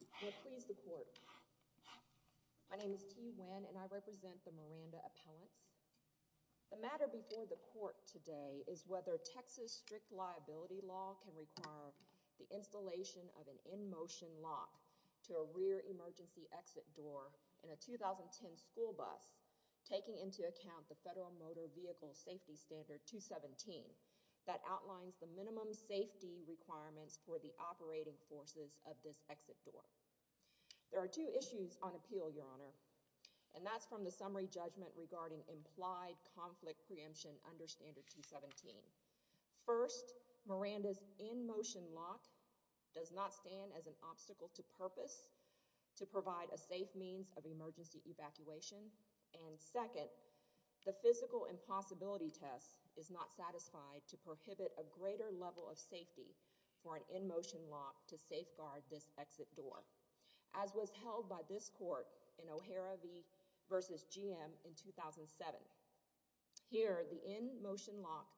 The matter before the court today is whether Texas strict liability law can require the installation of an in-motion lock to a rear emergency exit door in a 2010 school bus taking into account the Federal Motor Vehicle Safety Standard 217 that outlines the minimum safety requirements for the operating forces of this exit door. There are two issues on appeal, Your Honor, and that's from the summary judgment regarding implied conflict preemption under Standard 217. First, Miranda's in-motion lock does not stand as an obstacle to purpose to provide a safe means of emergency evacuation, and second, the physical impossibility test is not satisfied to prohibit a greater level of safety for an in-motion lock to safeguard this exit door, as was held by this court in O'Hara v. GM in 2007. Here the in-motion lock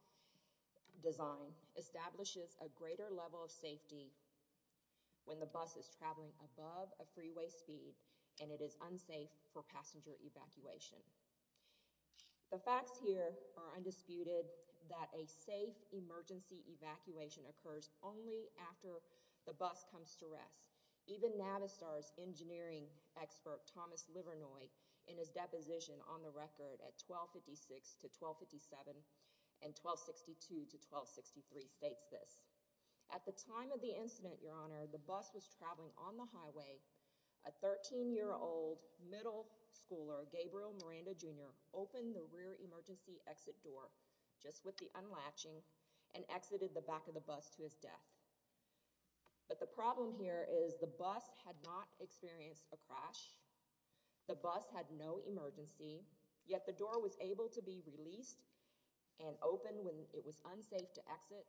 design establishes a greater level of safety when the bus is passenger evacuation. The facts here are undisputed that a safe emergency evacuation occurs only after the bus comes to rest. Even Navistar's engineering expert, Thomas Livernoy, in his deposition on the record at 1256-1257 and 1262-1263 states this. At the time of the incident, Your Honor, the bus was traveling on the highway, a 13-year old middle schooler, Gabriel Miranda, Jr., opened the rear emergency exit door just with the unlatching and exited the back of the bus to his death. But the problem here is the bus had not experienced a crash. The bus had no emergency, yet the door was able to be released and opened when it was unsafe to exit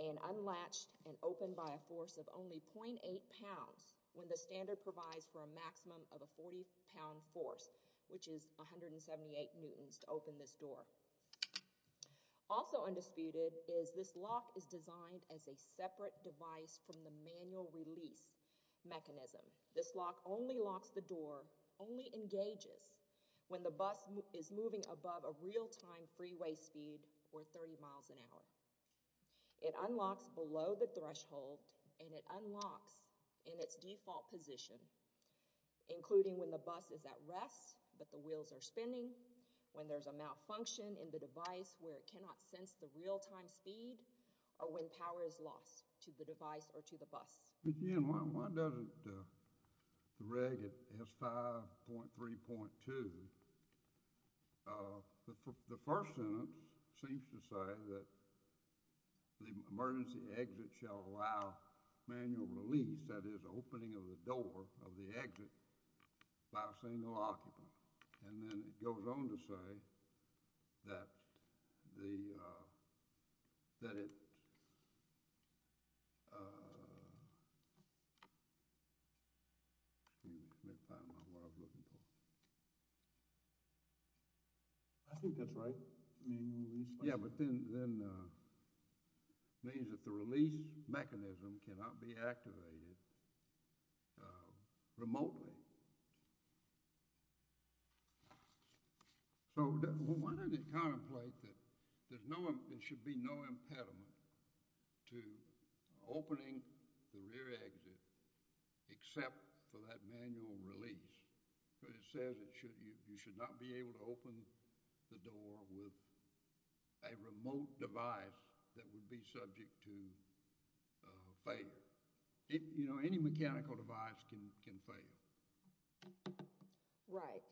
and unlatched and opened by a force of only .8 pounds when the standard provides for a maximum of a 40-pound force, which is 178 newtons to open this door. Also undisputed is this lock is designed as a separate device from the manual release mechanism. This lock only locks the door, only engages when the bus is moving above a real-time freeway speed or 30 miles an hour. It unlocks below the threshold and it unlocks in its default position, including when the bus is at rest but the wheels are spinning, when there's a malfunction in the device where it cannot sense the real-time speed, or when power is lost to the device or to the bus. Again, why doesn't the reg at S5.3.2, the first sentence seems to say that the emergency exit shall allow manual release, that is opening of the door of the exit by a single occupant. And then it goes on to say that the, that it, excuse me, let me find out what I was looking for. I think that's right, manual release. Yeah, but then, means that the release mechanism cannot be activated remotely. So, one of the contemplate that there's no, there should be no impediment to opening the rear exit except for that manual release. But it says it should, you should not be able to open the door with a remote device that would be subject to failure. It, you know, any mechanical device can fail. Right.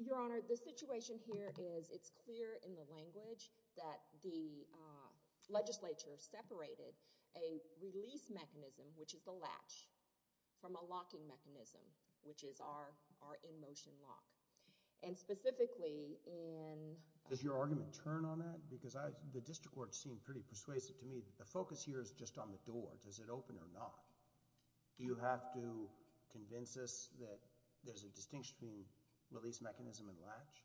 Your Honor, the situation here is it's clear in the language that the legislature separated a release mechanism, which is the latch, from a locking mechanism, which is our, our in-motion lock. And specifically in… Does your argument turn on that? Because I, the district court seemed pretty persuasive to me. The focus here is just on the door. Does it open or not? Do you have to convince us that there's a distinction between release mechanism and latch?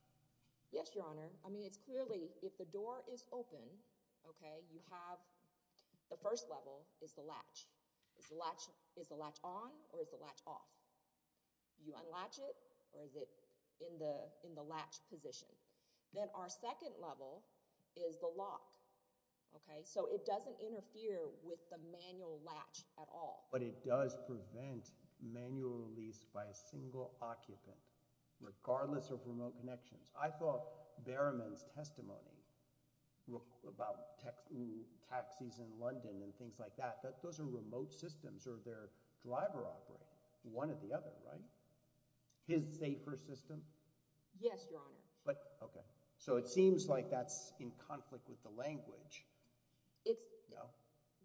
Yes, your Honor. I mean, it's clearly, if the door is open, okay, you have, the first level is the latch. Is the latch, is the latch on or is the latch off? You unlatch it or is it in the, in the latch position? Then our second level is the lock, okay? So it doesn't interfere with the manual latch at all. But it does prevent manual release by a single occupant, regardless of remote connections. I thought Berriman's testimony about taxis in London and things like that, that those are remote systems or they're driver operated, one or the other, right? His safer system? Yes, your Honor. But, okay. So it seems like that's in conflict with the language. It's,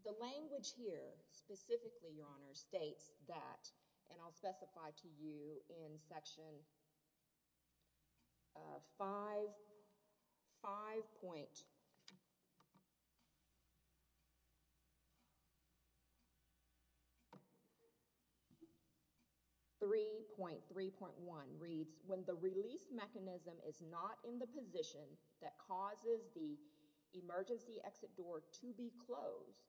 the language here specifically, your Honor, states that, and I'll specify to you in Section 5.3.1 reads, when the release mechanism is not in the position that causes the emergency exit door to be closed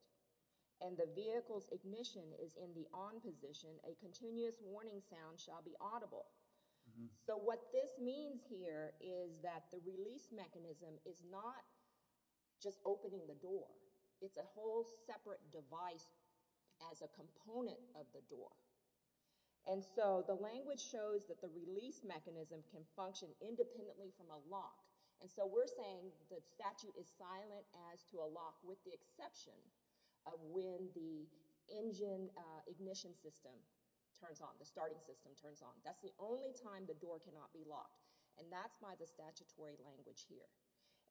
and the vehicle's ignition is in the on position, a continuous warning sound shall be audible. So what this means here is that the release mechanism is not just opening the door. It's a whole separate device as a component of the door. And so the language shows that the release mechanism can function independently from a lock. And so we're saying the statute is silent as to a lock with the exception of when the ignition system turns on, the starting system turns on. That's the only time the door cannot be locked. And that's by the statutory language here.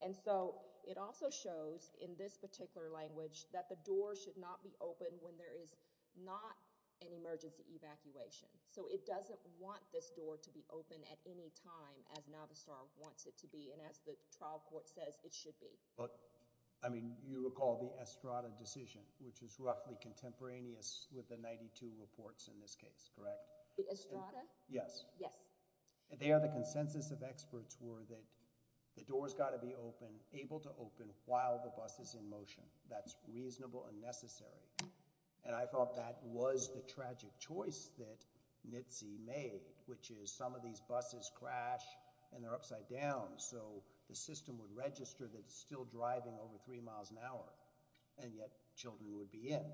And so it also shows in this particular language that the door should not be open when there is not an emergency evacuation. So it doesn't want this door to be open at any time as Navistar wants it to be and as the trial court says it should be. But, I mean, you recall the Estrada decision, which is roughly contemporaneous with the 92 reports in this case, correct? The Estrada? Yes. Yes. There the consensus of experts were that the door's got to be open, able to open while the bus is in motion. That's reasonable and necessary. And I thought that was the tragic choice that NHTSA made, which is some of these buses crash and they're upside down so the system would register that it's still driving over three miles an hour and yet children would be in.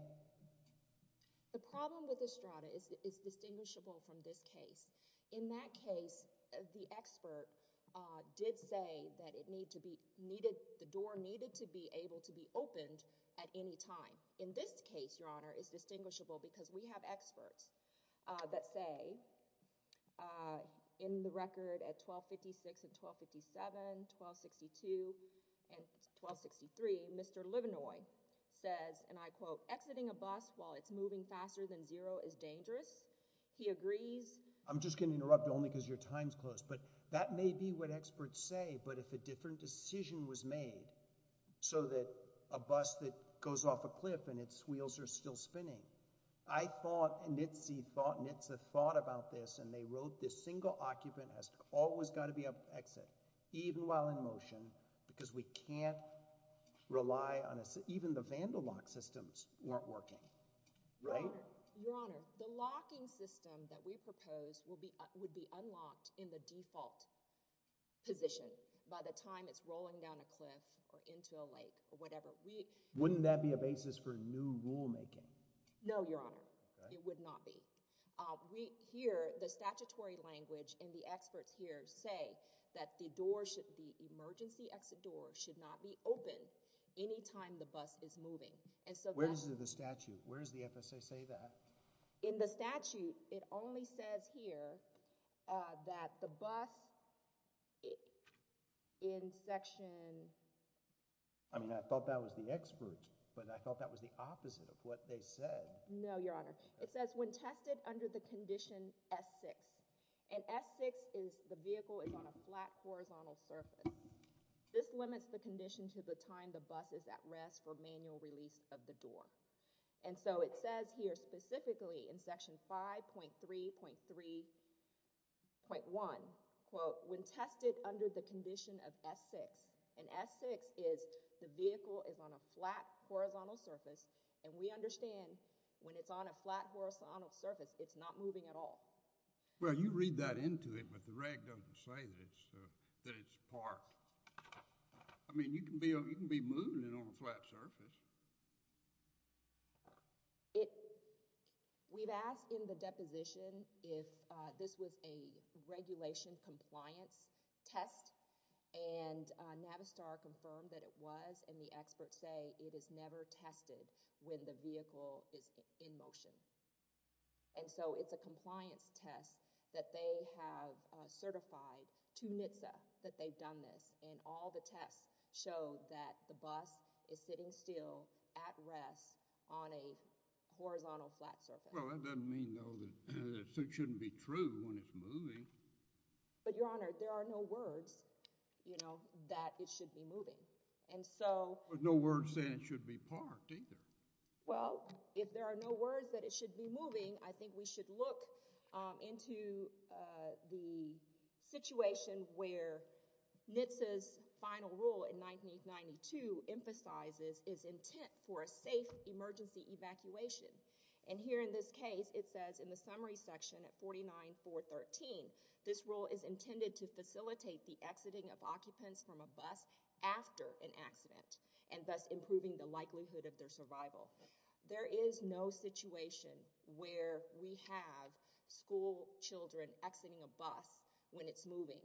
The problem with Estrada is distinguishable from this case. In that case, the expert did say that it needed, the door needed to be able to be opened at any time. In this case, Your Honor, it's distinguishable because we have experts that say in the record at 1256 and 1257, 1262 and 1263, Mr. Livenoy says, and I quote, exiting a bus while it's moving faster than zero is dangerous. He agrees. I'm just going to interrupt only because your time's close. But that may be what experts say, but if a different decision was made so that a bus that goes off a cliff and its wheels are still spinning, I thought NHTSA thought about this and they wrote this single occupant has always got to be able to exit even while in motion because we can't rely on, even the vandal lock systems weren't working. Right? Your Honor, the locking system that we propose would be unlocked in the default position by the time it's rolling down a cliff or into a lake or whatever. Wouldn't that be a basis for new rulemaking? No, Your Honor. It would not be. Here, the statutory language and the experts here say that the emergency exit door should not be open any time the bus is moving. Where does the statute, where does the FSA say that? In the statute, it only says here that the bus in section... I mean, I thought that was the expert, but I thought that was the opposite of what they said. No, Your Honor. It says when tested under the condition S6, and S6 is the vehicle is on a flat horizontal surface, this limits the condition to the time the bus is at rest for manual release of the door. And so it says here specifically in section 5.3.3.1, quote, when tested under the condition of S6, and S6 is the vehicle is on a flat horizontal surface, and we understand when it's on a flat horizontal surface, it's not moving at all. Well, you read that into it, but the reg doesn't say that it's parked. I mean, you can be moving it on a flat surface. We've asked in the deposition if this was a regulation compliance test, and Navistar confirmed that it was, and the experts say it is never tested when the vehicle is in motion. And so it's a compliance test that they have certified to NHTSA that they've done this, and all the tests show that the bus is sitting still at rest on a horizontal flat surface. Well, that doesn't mean, though, that it shouldn't be true when it's moving. But, Your Honor, there are no words, you know, that it should be moving. But no words saying it should be parked either. Well, if there are no words that it should be moving, I think we should look into the situation where NHTSA's final rule in 1992 emphasizes its intent for a safe emergency evacuation. And here in this case, it says in the summary section at 49.413, this rule is intended to facilitate the exiting of occupants from a bus after an accident and thus improving the likelihood of their survival. There is no situation where we have school children exiting a bus when it's moving.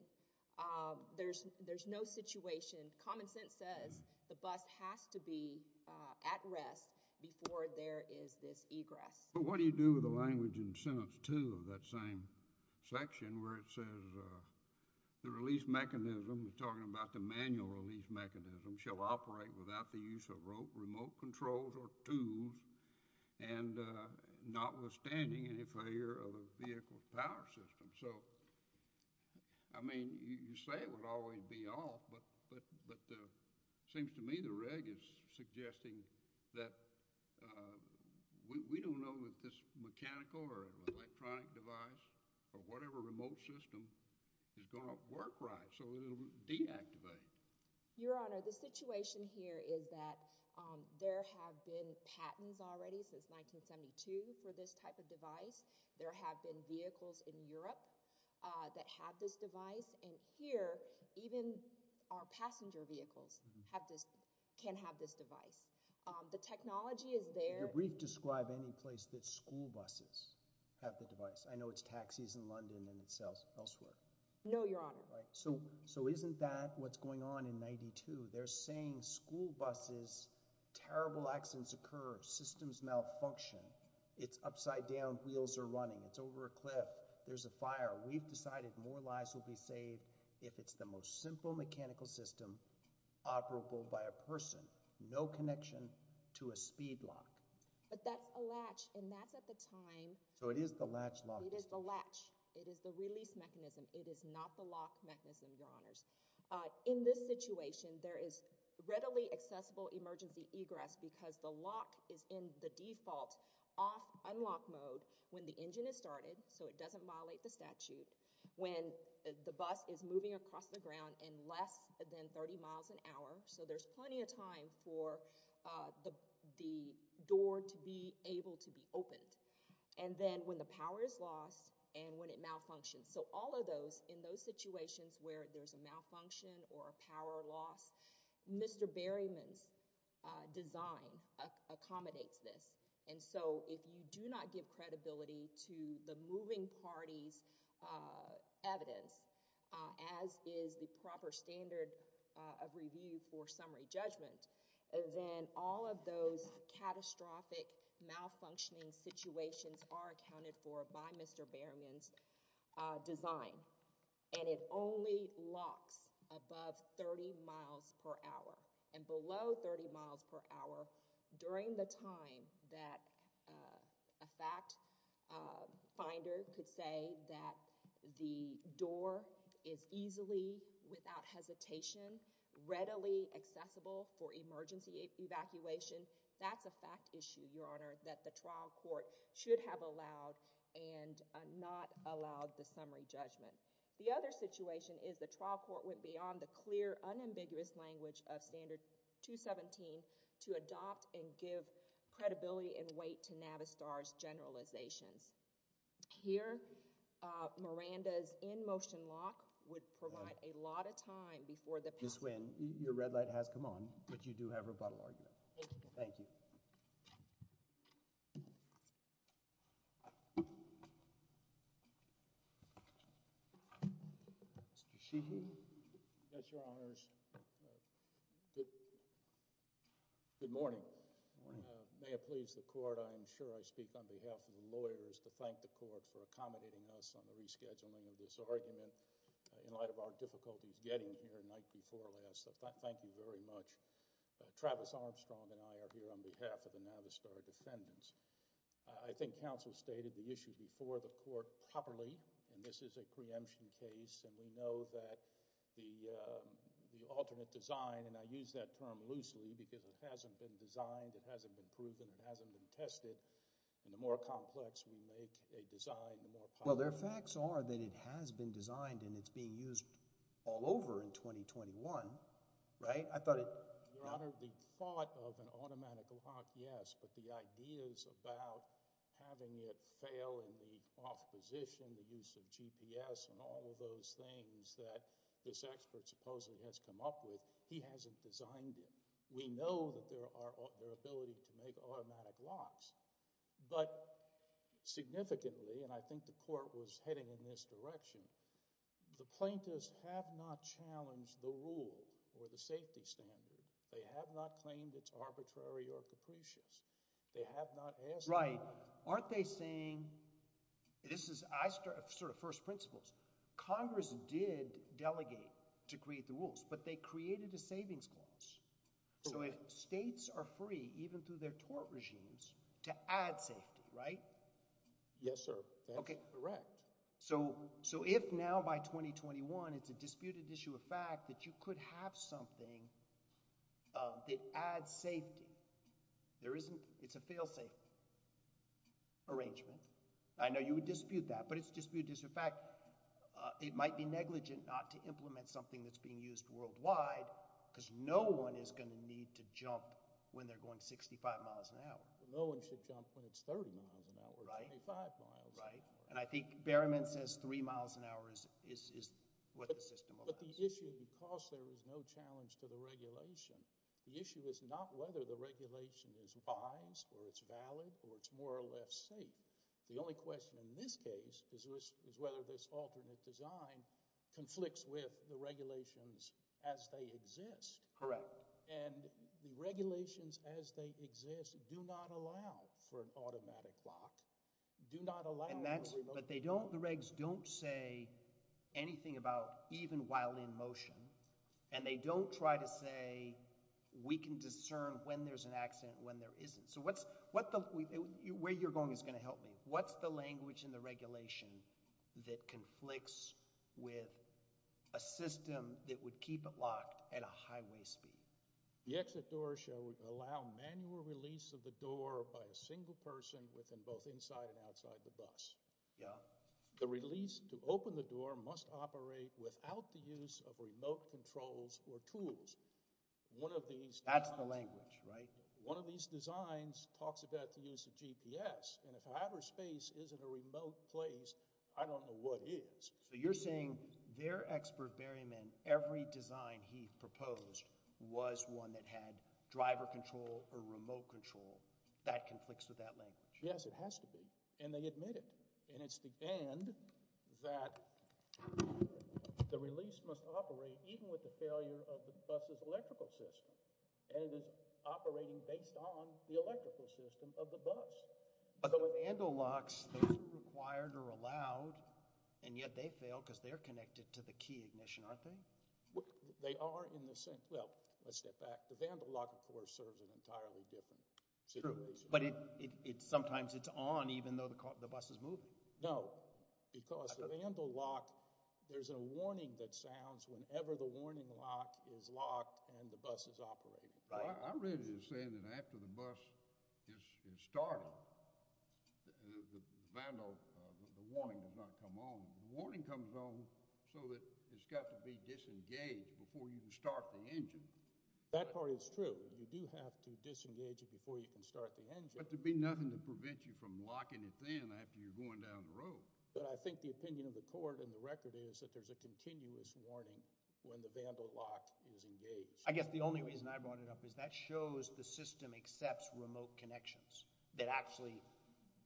There's no situation. Common sense says the bus has to be at rest before there is this egress. But what do you do with the language in sentence two of that same section where it says the release mechanism, we're talking about the manual release mechanism, shall operate without the use of remote controls or tools and notwithstanding any failure of the vehicle's power system. So, I mean, you say it would always be off, but it seems to me the reg is suggesting that we don't know that this mechanical or electronic device or whatever remote system is going to work right so it will deactivate. Your Honor, the situation here is that there have been patents already since 1972 for this type of device. There have been vehicles in Europe that have this device. And here, even our passenger vehicles have this, can have this device. The technology is there. Could your brief describe any place that school buses have the device? I know it's taxis in London and it's elsewhere. No, Your Honor. So isn't that what's going on in 92? They're saying school buses, terrible accidents occur, systems malfunction. It's upside down, wheels are running. It's over a cliff. There's a fire. We've decided more lives will be saved if it's the most simple mechanical system operable by a person. No connection to a speed lock. But that's a latch, and that's at the time. So it is the latch lock. It is the latch. It is the release mechanism. It is not the lock mechanism, Your Honors. In this situation, there is readily accessible emergency egress because the lock is in the default off unlock mode when the engine is started, so it doesn't violate the statute, when the bus is moving across the ground in less than 30 miles an hour, so there's plenty of time for the door to be able to be opened, and then when the power is lost and when it malfunctions. So all of those, in those situations where there's a malfunction or a power loss, Mr. Berryman's design accommodates this. And so if you do not give credibility to the moving party's evidence, as is the proper standard of review for summary judgment, then all of those catastrophic malfunctioning situations are accounted for by Mr. Berryman's design, and it only locks above 30 miles per hour and below 30 miles per hour during the time that a fact finder could say that the door is easily, without hesitation, readily accessible for emergency evacuation, that's a fact issue, Your Honor, that the trial court should have allowed and not allowed the summary judgment. The other situation is the trial court went beyond the clear, unambiguous language of Standard 217 to adopt and give credibility and weight to Navistar's generalizations. Here, Miranda's in-motion lock would provide a lot of time before the passing. Ms. Winn, your red light has come on, but you do have rebuttal argument. Thank you. Thank you. Mr. Sheehy. Yes, Your Honors. Good morning. Good morning. May it please the Court, I am sure I speak on behalf of the lawyers, to thank the Court for accommodating us on the rescheduling of this argument in light of our difficulties getting here the night before last, so thank you very much. Travis Armstrong and I are here on behalf of the Navistar defendants. I think counsel stated the issue before the Court properly, and this is a preemption case, and we know that the alternate design, and I use that term loosely because it hasn't been designed, it hasn't been proven, it hasn't been tested, and the more complex we make a design, the more powerful it is. Well, their facts are that it has been designed and it's being used all over in 2021, right? I thought it— Your Honor, the thought of an automatic lock, yes, but the ideas about having it fail in the off position, the use of GPS, and all of those things that this expert supposedly has come up with, he hasn't designed it. We know that there are—their ability to make automatic locks, but significantly, and I think the Court was heading in this direction, the plaintiffs have not challenged the rule or the safety standard. They have not claimed it's arbitrary or capricious. They have not asked— Right. Aren't they saying—this is—I sort of first principles. Congress did delegate to create the rules, but they created a savings clause. So if states are free, even through their tort regimes, to add safety, right? Yes, sir. Okay. That's correct. So if now by 2021 it's a disputed issue of fact that you could have something that adds safety, there isn't—it's a failsafe arrangement. I know you would dispute that, but it's a disputed issue of fact. It might be negligent not to implement something that's being used worldwide because no one is going to need to jump when they're going 65 miles an hour. No one should jump when it's 30 miles an hour or 25 miles an hour. Right. And I think Berryman says three miles an hour is what the system allows. But the issue, because there is no challenge to the regulation, the issue is not whether the regulation is wise or it's valid or it's more or less safe. The only question in this case is whether this alternate design conflicts with the regulations as they exist. Correct. And the regulations as they exist do not allow for an automatic lock, do not allow— But they don't—the regs don't say anything about even while in motion, and they don't try to say we can discern when there's an accident and when there isn't. So what's—where you're going is going to help me. What's the language in the regulation that conflicts with a system that would keep it locked at a highway speed? The exit door shall allow manual release of the door by a single person within both inside and outside the bus. Yeah. The release to open the door must operate without the use of remote controls or tools. One of these— That's the language, right? One of these designs talks about the use of GPS, and if Hyperspace isn't a remote place, I don't know what is. So you're saying their expert, Berryman, every design he proposed was one that had driver control or remote control. That conflicts with that language. Yes, it has to be, and they admit it. And it's the—and that the release must operate even with the failure of the bus's electrical system, and it is operating based on the electrical system of the bus. But the vandal locks, they're required or allowed, and yet they fail because they're connected to the key ignition, aren't they? They are in the same—well, let's step back. The vandal lock, of course, serves an entirely different situation. True, but it—sometimes it's on even though the bus is moving. No, because the vandal lock, there's a warning that sounds whenever the warning lock is locked and the bus is operating. I read it as saying that after the bus is starting, the vandal—the warning does not come on. The warning comes on so that it's got to be disengaged before you can start the engine. That part is true. You do have to disengage it before you can start the engine. But there'd be nothing to prevent you from locking it then after you're going down the road. But I think the opinion of the court and the record is that there's a continuous warning when the vandal lock is engaged. I guess the only reason I brought it up is that shows the system accepts remote connections that actually—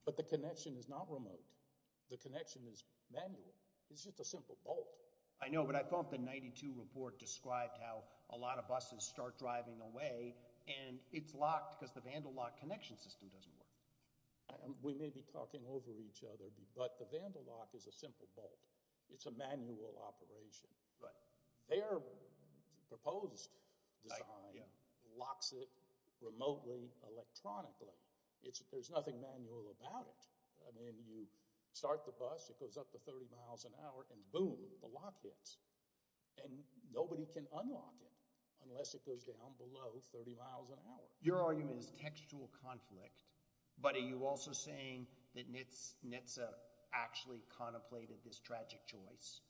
But the connection is not remote. The connection is manual. It's just a simple bolt. I know, but I thought the 92 report described how a lot of buses start driving away, and it's locked because the vandal lock connection system doesn't work. We may be talking over each other, but the vandal lock is a simple bolt. It's a manual operation. Their proposed design locks it remotely electronically. There's nothing manual about it. You start the bus. It goes up to 30 miles an hour, and boom, the lock hits, and nobody can unlock it unless it goes down below 30 miles an hour. Your argument is textual conflict, but are you also saying that NHTSA actually contemplated this tragic choice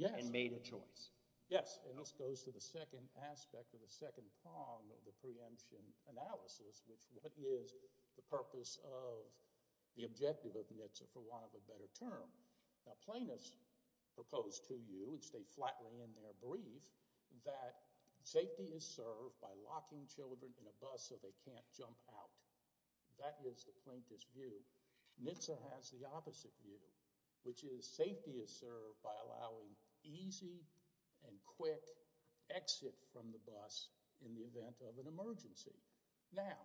and made a choice? Yes, and this goes to the second aspect or the second prong of the preemption analysis, which what is the purpose of the objective of NHTSA for want of a better term. Now plaintiffs proposed to you, and stay flatly in their brief, that safety is served by locking children in a bus so they can't jump out. That is the plaintiff's view. NHTSA has the opposite view, which is safety is served by allowing easy and quick exit from the bus in the event of an emergency. Now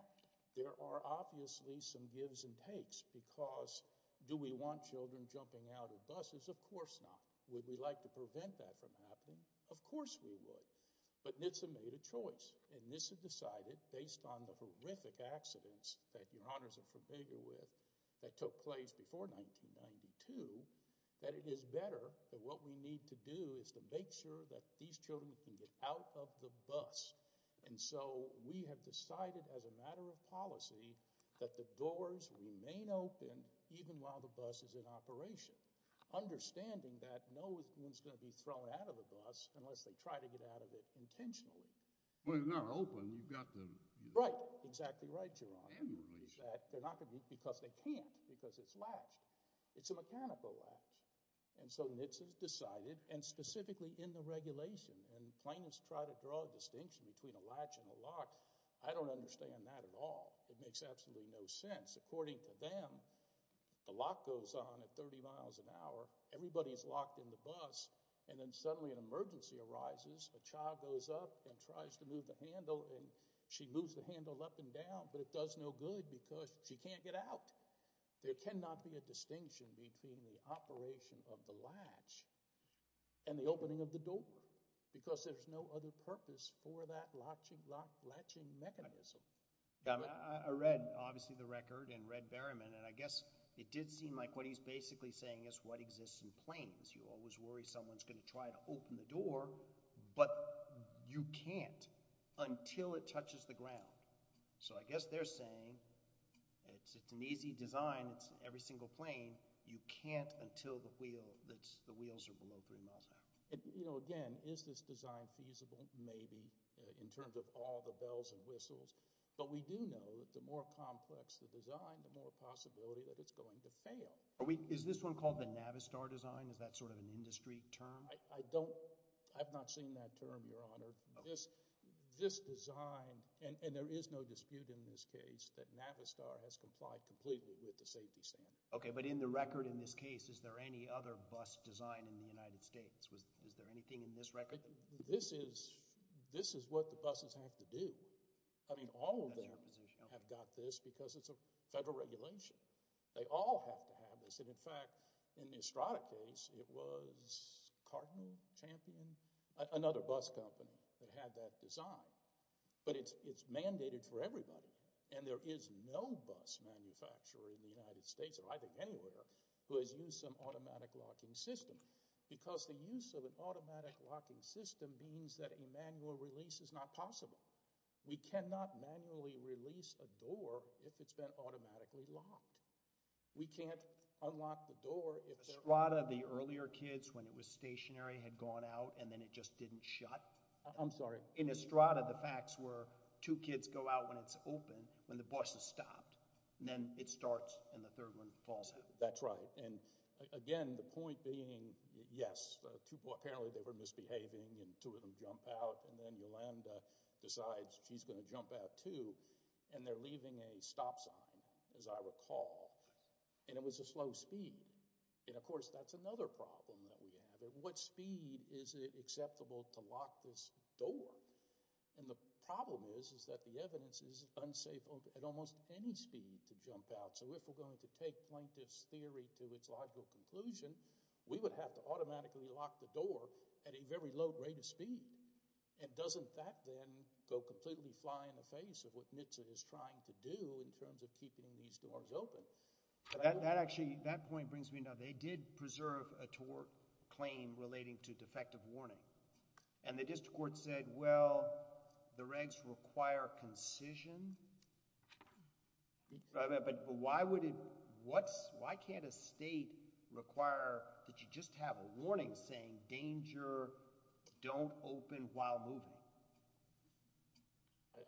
there are obviously some gives and takes because do we want children jumping out of buses? Of course not. Would we like to prevent that from happening? Of course we would. But NHTSA made a choice, and NHTSA decided based on the horrific accidents that Your Honors are familiar with that took place before 1992 that it is better that what we need to do is to make sure that these children can get out of the bus. And so we have decided as a matter of policy that the doors remain open even while the bus is in operation, understanding that no one is going to be thrown out of the bus unless they try to get out of it intentionally. Well, they're not open, you've got to… Right, exactly right, Your Honor. They're not going to be because they can't, because it's latched. It's a mechanical latch. And so NHTSA has decided, and specifically in the regulation, and plaintiffs try to draw a distinction between a latch and a lock. I don't understand that at all. It makes absolutely no sense. According to them, the lock goes on at 30 miles an hour, everybody is locked in the bus, and then suddenly an emergency arises, a child goes up and tries to move the handle, and she moves the handle up and down, but it does no good because she can't get out. There cannot be a distinction between the operation of the latch and the opening of the door because there's no other purpose for that latching mechanism. I read, obviously, the record and read Berriman, and I guess it did seem like what he's basically saying is what exists in planes. You always worry someone's going to try to open the door, but you can't until it touches the ground. So I guess they're saying it's an easy design. It's every single plane. You can't until the wheels are below three miles an hour. Again, is this design feasible? Maybe, in terms of all the bells and whistles. But we do know that the more complex the design, the more possibility that it's going to fail. Is this one called the Navistar design? Is that sort of an industry term? I don't – I have not seen that term, Your Honor. This design – and there is no dispute in this case that Navistar has complied completely with the safety standards. Okay, but in the record in this case, is there any other bus design in the United States? Is there anything in this record? This is what the buses have to do. I mean all of them have got this because it's a federal regulation. They all have to have this. In fact, in the Estrada case, it was Cardinal, Champion, another bus company that had that design. But it's mandated for everybody, and there is no bus manufacturer in the United States, or I think anywhere, who has used some automatic locking system because the use of an automatic locking system means that a manual release is not possible. We cannot manually release a door if it's been automatically locked. We can't unlock the door if there are – In Estrada, the earlier kids, when it was stationary, had gone out, and then it just didn't shut. I'm sorry. In Estrada, the facts were two kids go out when it's open, when the bus has stopped, and then it starts, and the third one falls out. That's right. And again, the point being, yes, apparently they were misbehaving, and two of them jump out, and then Yolanda decides she's going to jump out too, and they're leaving a stop sign, as I recall, and it was a slow speed. Of course, that's another problem that we have. At what speed is it acceptable to lock this door? The problem is that the evidence is it's unsafe at almost any speed to jump out. So if we're going to take plaintiff's theory to its logical conclusion, we would have to automatically lock the door at a very low rate of speed. And doesn't that, then, go completely fly in the face of what NHTSA is trying to do in terms of keeping these doors open? Actually, that point brings me to another. They did preserve a tort claim relating to defective warning, and the district court said, well, the regs require concision. But why can't a state require that you just have a warning saying, danger, don't open while moving?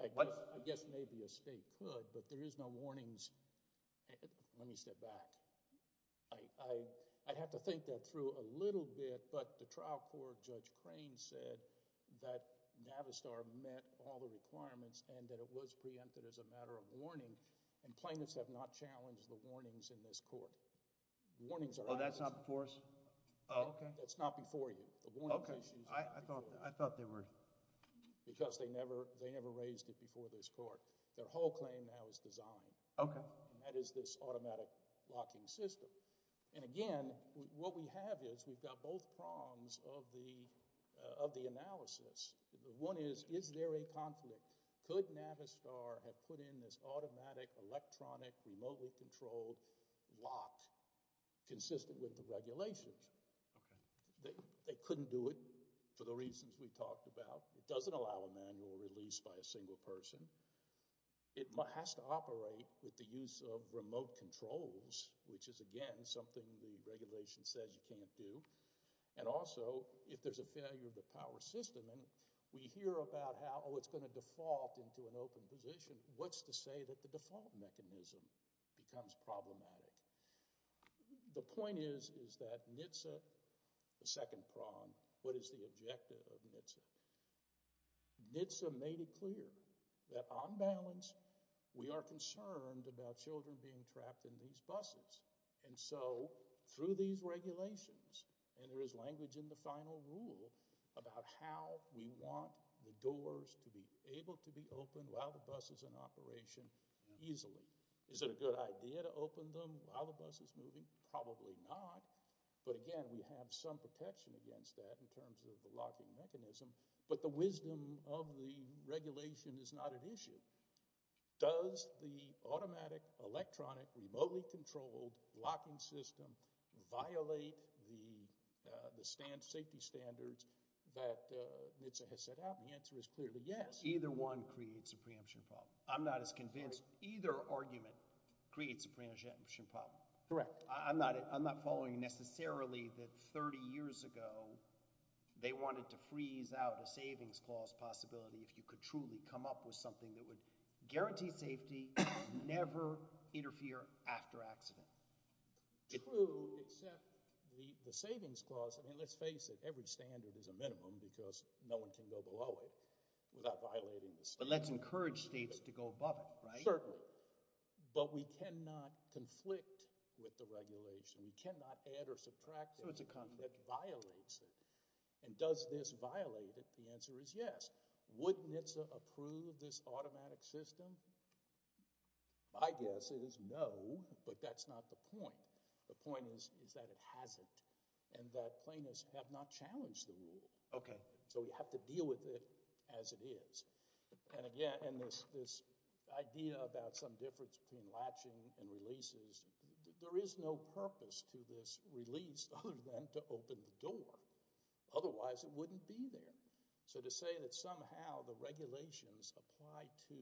I guess maybe a state could, but there is no warnings. Let me step back. I'd have to think that through a little bit, but the trial court, Judge Crane said that Navistar met all the requirements and that it was preempted as a matter of warning, and plaintiffs have not challenged the warnings in this court. Oh, that's not before us? Oh, okay. That's not before you. Okay. I thought they were. Because they never raised it before this court. Their whole claim now is designed. Okay. And that is this automatic locking system. And again, what we have is we've got both prongs of the analysis. One is, is there a conflict? Could Navistar have put in this automatic, electronic, remotely controlled lock consistent with the regulations? Okay. They couldn't do it for the reasons we talked about. It doesn't allow a manual release by a single person. It has to operate with the use of remote controls, which is, again, something the regulation says you can't do. And also, if there's a failure of the power system and we hear about how, oh, it's going to default into an open position, what's to say that the default mechanism becomes problematic? The point is, is that NHTSA, the second prong, what is the objective of NHTSA? NHTSA made it clear that, on balance, we are concerned about children being trapped in these buses. And so, through these regulations, and there is language in the final rule about how we want the doors to be able to be opened while the bus is in operation easily. Is it a good idea to open them while the bus is moving? Probably not. But, again, we have some protection against that in terms of the locking mechanism. But the wisdom of the regulation is not an issue. Does the automatic, electronic, remotely controlled locking system violate the safety standards that NHTSA has set out? The answer is clearly yes. Either one creates a preemption problem. I'm not as convinced either argument creates a preemption problem. Correct. I'm not following necessarily that 30 years ago they wanted to freeze out a savings clause possibility if you could truly come up with something that would guarantee safety, never interfere after accident. True, except the savings clause, I mean, let's face it, every standard is a minimum because no one can go below it without violating the standards. But let's encourage states to go above it, right? Certainly. But we cannot conflict with the regulation. We cannot add or subtract something that violates it. And does this violate it? The answer is yes. Would NHTSA approve this automatic system? My guess is no, but that's not the point. The point is that it hasn't and that plaintiffs have not challenged the rule. Okay. So we have to deal with it as it is. And again, this idea about some difference between latching and releases, there is no purpose to this release other than to open the door. Otherwise, it wouldn't be there. So to say that somehow the regulations apply to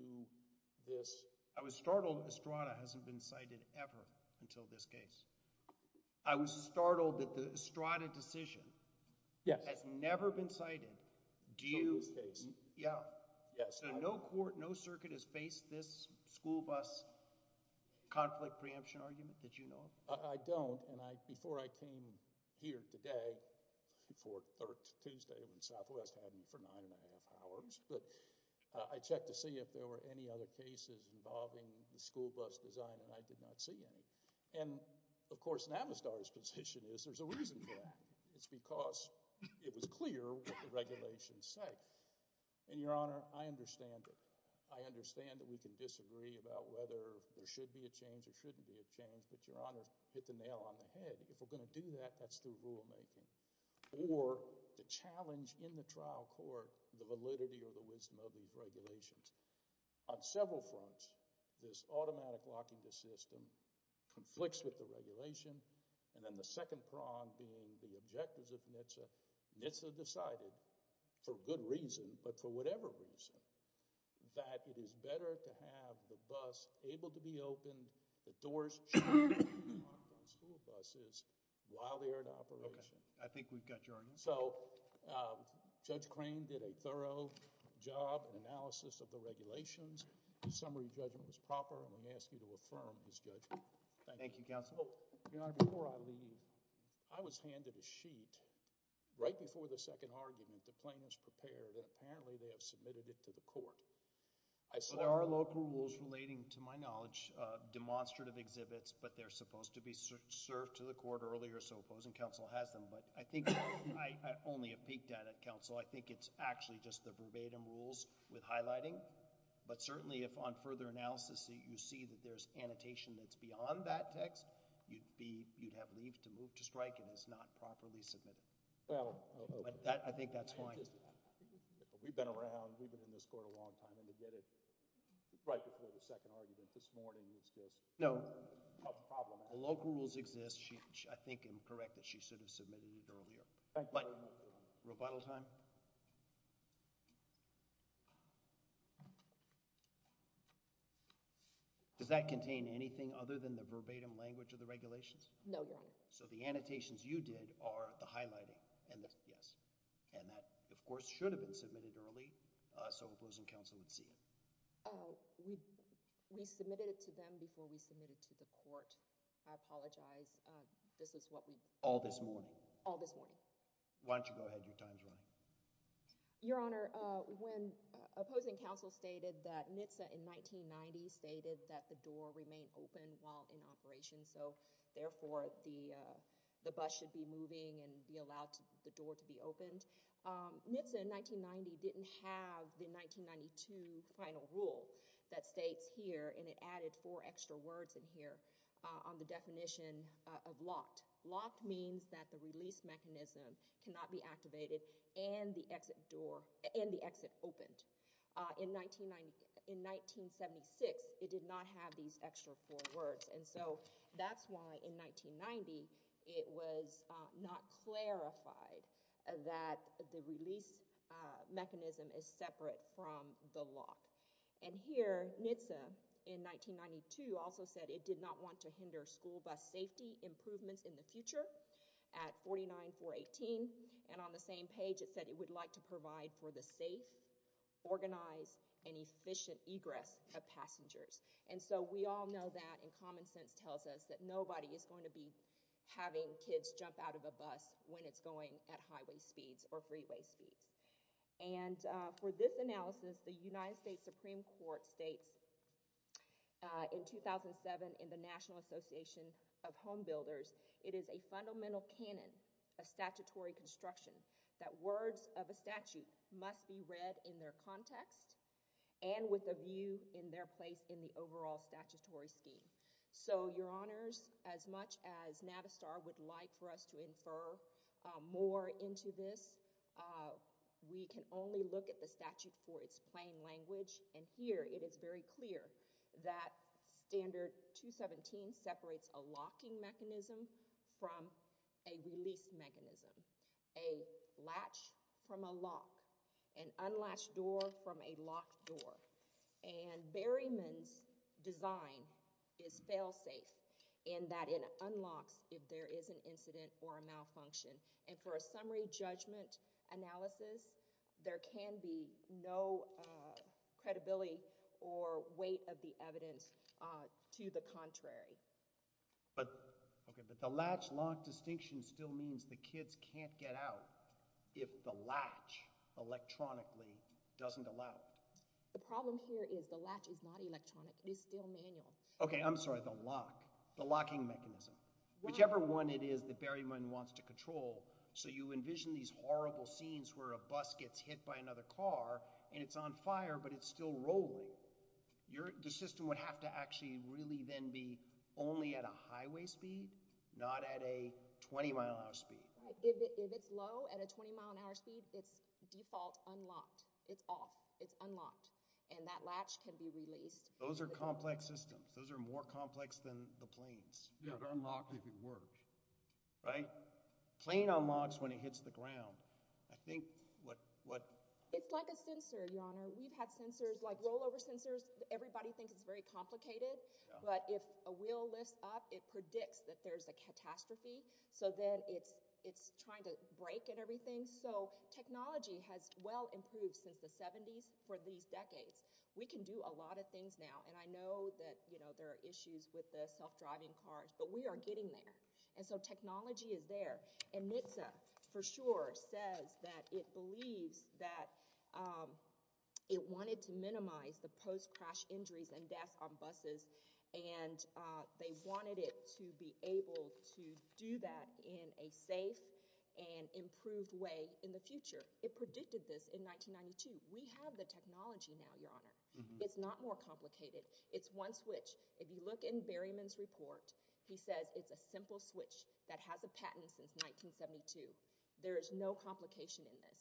this. I was startled Estrada hasn't been cited ever until this case. I was startled that the Estrada decision has never been cited. Until this case. Yeah. Yeah. So no court, no circuit has faced this school bus conflict preemption argument? Did you know? I don't. And I, before I came here today for third Tuesday, when Southwest hadn't for nine and a half hours, but I checked to see if there were any other cases involving the school bus design and I did not see any. And of course, Navistar's position is there's a reason for that. It's because it was clear what the regulations say. And Your Honor, I understand it. I understand that we can disagree about whether there should be a change or shouldn't be a change, but Your Honor hit the nail on the head. If we're going to do that, that's through rulemaking. Or the challenge in the trial court, the validity or the wisdom of these regulations. On several fronts, this automatic locking the system, conflicts with the regulation, and then the second prong being the objectives of NHTSA. NHTSA decided for good reason, but for whatever reason, that it is better to have the bus able to be opened, that doors should be locked on school buses while they are in operation. Okay. I think we've got your answer. So Judge Crane did a thorough job in analysis of the regulations. His summary judgment was proper. I'm going to ask you to affirm his judgment. Thank you. Thank you, Counsel. Your Honor, before I leave, I was handed a sheet right before the second argument. The plaintiff's prepared and apparently they have submitted it to the court. There are local rules relating, to my knowledge, demonstrative exhibits, but they're supposed to be served to the court earlier, so opposing counsel has them. But I think I only have peeked at it, Counsel. I think it's actually just the verbatim rules with highlighting. But certainly if on further analysis you see that there's annotation that's beyond that text, you'd have leave to move to strike if it's not properly submitted. I think that's fine. We've been around, we've been in this court a long time, and to get it right before the second argument this morning is just a problem. The local rules exist. I think I'm correct that she should have submitted it earlier. Rebuttal time. Does that contain anything other than the verbatim language of the regulations? No, Your Honor. So the annotations you did are the highlighting. Yes. And that, of course, should have been submitted early so opposing counsel would see it. We submitted it to them before we submitted it to the court. I apologize. This is what we— All this morning. All this morning. Why don't you go ahead. Your time's running. Your Honor, when opposing counsel stated that NHTSA in 1990 stated that the door remained open while in operation, so therefore the bus should be moving and be allowed the door to be opened, NHTSA in 1990 didn't have the 1992 final rule that states here, and it added four extra words in here on the definition of locked. Locked means that the release mechanism cannot be activated and the exit opened. In 1976, it did not have these extra four words. And so that's why in 1990 it was not clarified that the release mechanism is separate from the lock. And here NHTSA in 1992 also said it did not want to hinder school bus safety improvements in the future at 49.418, and on the same page it said it would like to provide for the safe, organized, and efficient egress of passengers. And so we all know that, and common sense tells us, that nobody is going to be having kids jump out of a bus when it's going at highway speeds or freeway speeds. And for this analysis, the United States Supreme Court states in 2007 in the National Association of Home Builders, it is a fundamental canon of statutory construction that words of a statute must be read in their context and with a view in their place in the overall statutory scheme. So, Your Honors, as much as Navistar would like for us to infer more into this, we can only look at the statute for its plain language, and here it is very clear that Standard 217 separates a locking mechanism from a release mechanism, a latch from a lock, an unlatched door from a locked door, and Berryman's design is fail-safe in that it unlocks if there is an incident or a malfunction. And for a summary judgment analysis, there can be no credibility or weight of the evidence to the contrary. But the latch-lock distinction still means the kids can't get out if the latch electronically doesn't allow it. The problem here is the latch is not electronic. It is still manual. Okay, I'm sorry, the lock, the locking mechanism. Whichever one it is that Berryman wants to control, so you envision these horrible scenes where a bus gets hit by another car, and it's on fire, but it's still rolling. The system would have to actually really then be only at a highway speed, not at a 20-mile-an-hour speed. If it's low at a 20-mile-an-hour speed, it's default unlocked. It's off. It's unlocked. And that latch can be released. Those are complex systems. Those are more complex than the planes. Yeah, they're unlocked if it works. Right? A plane unlocks when it hits the ground. I think what… It's like a sensor, Your Honor. We've had sensors, like rollover sensors. Everybody thinks it's very complicated, but if a wheel lifts up, it predicts that there's a catastrophe. So then it's trying to break and everything. So technology has well improved since the 70s for these decades. We can do a lot of things now, and I know that there are issues with the self-driving cars, but we are getting there, and so technology is there. And NHTSA for sure says that it believes that it wanted to minimize the post-crash injuries and deaths on buses, and they wanted it to be able to do that in a safe and improved way in the future. It predicted this in 1992. We have the technology now, Your Honor. It's not more complicated. It's one switch. If you look in Berryman's report, he says it's a simple switch that has a patent since 1972. There is no complication in this.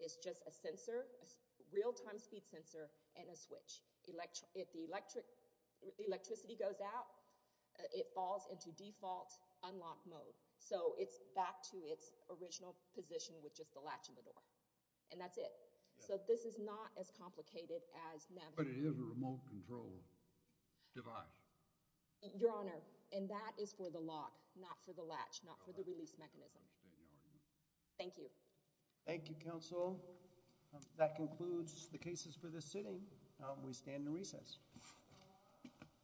It's just a sensor, a real-time speed sensor, and a switch. If the electricity goes out, it falls into default unlock mode. So it's back to its original position with just the latch on the door, and that's it. So this is not as complicated as… But it is a remote control device. Your Honor, and that is for the lock, not for the latch, not for the release mechanism. I understand your argument. Thank you. Thank you, Counsel. That concludes the cases for this sitting. We stand in recess.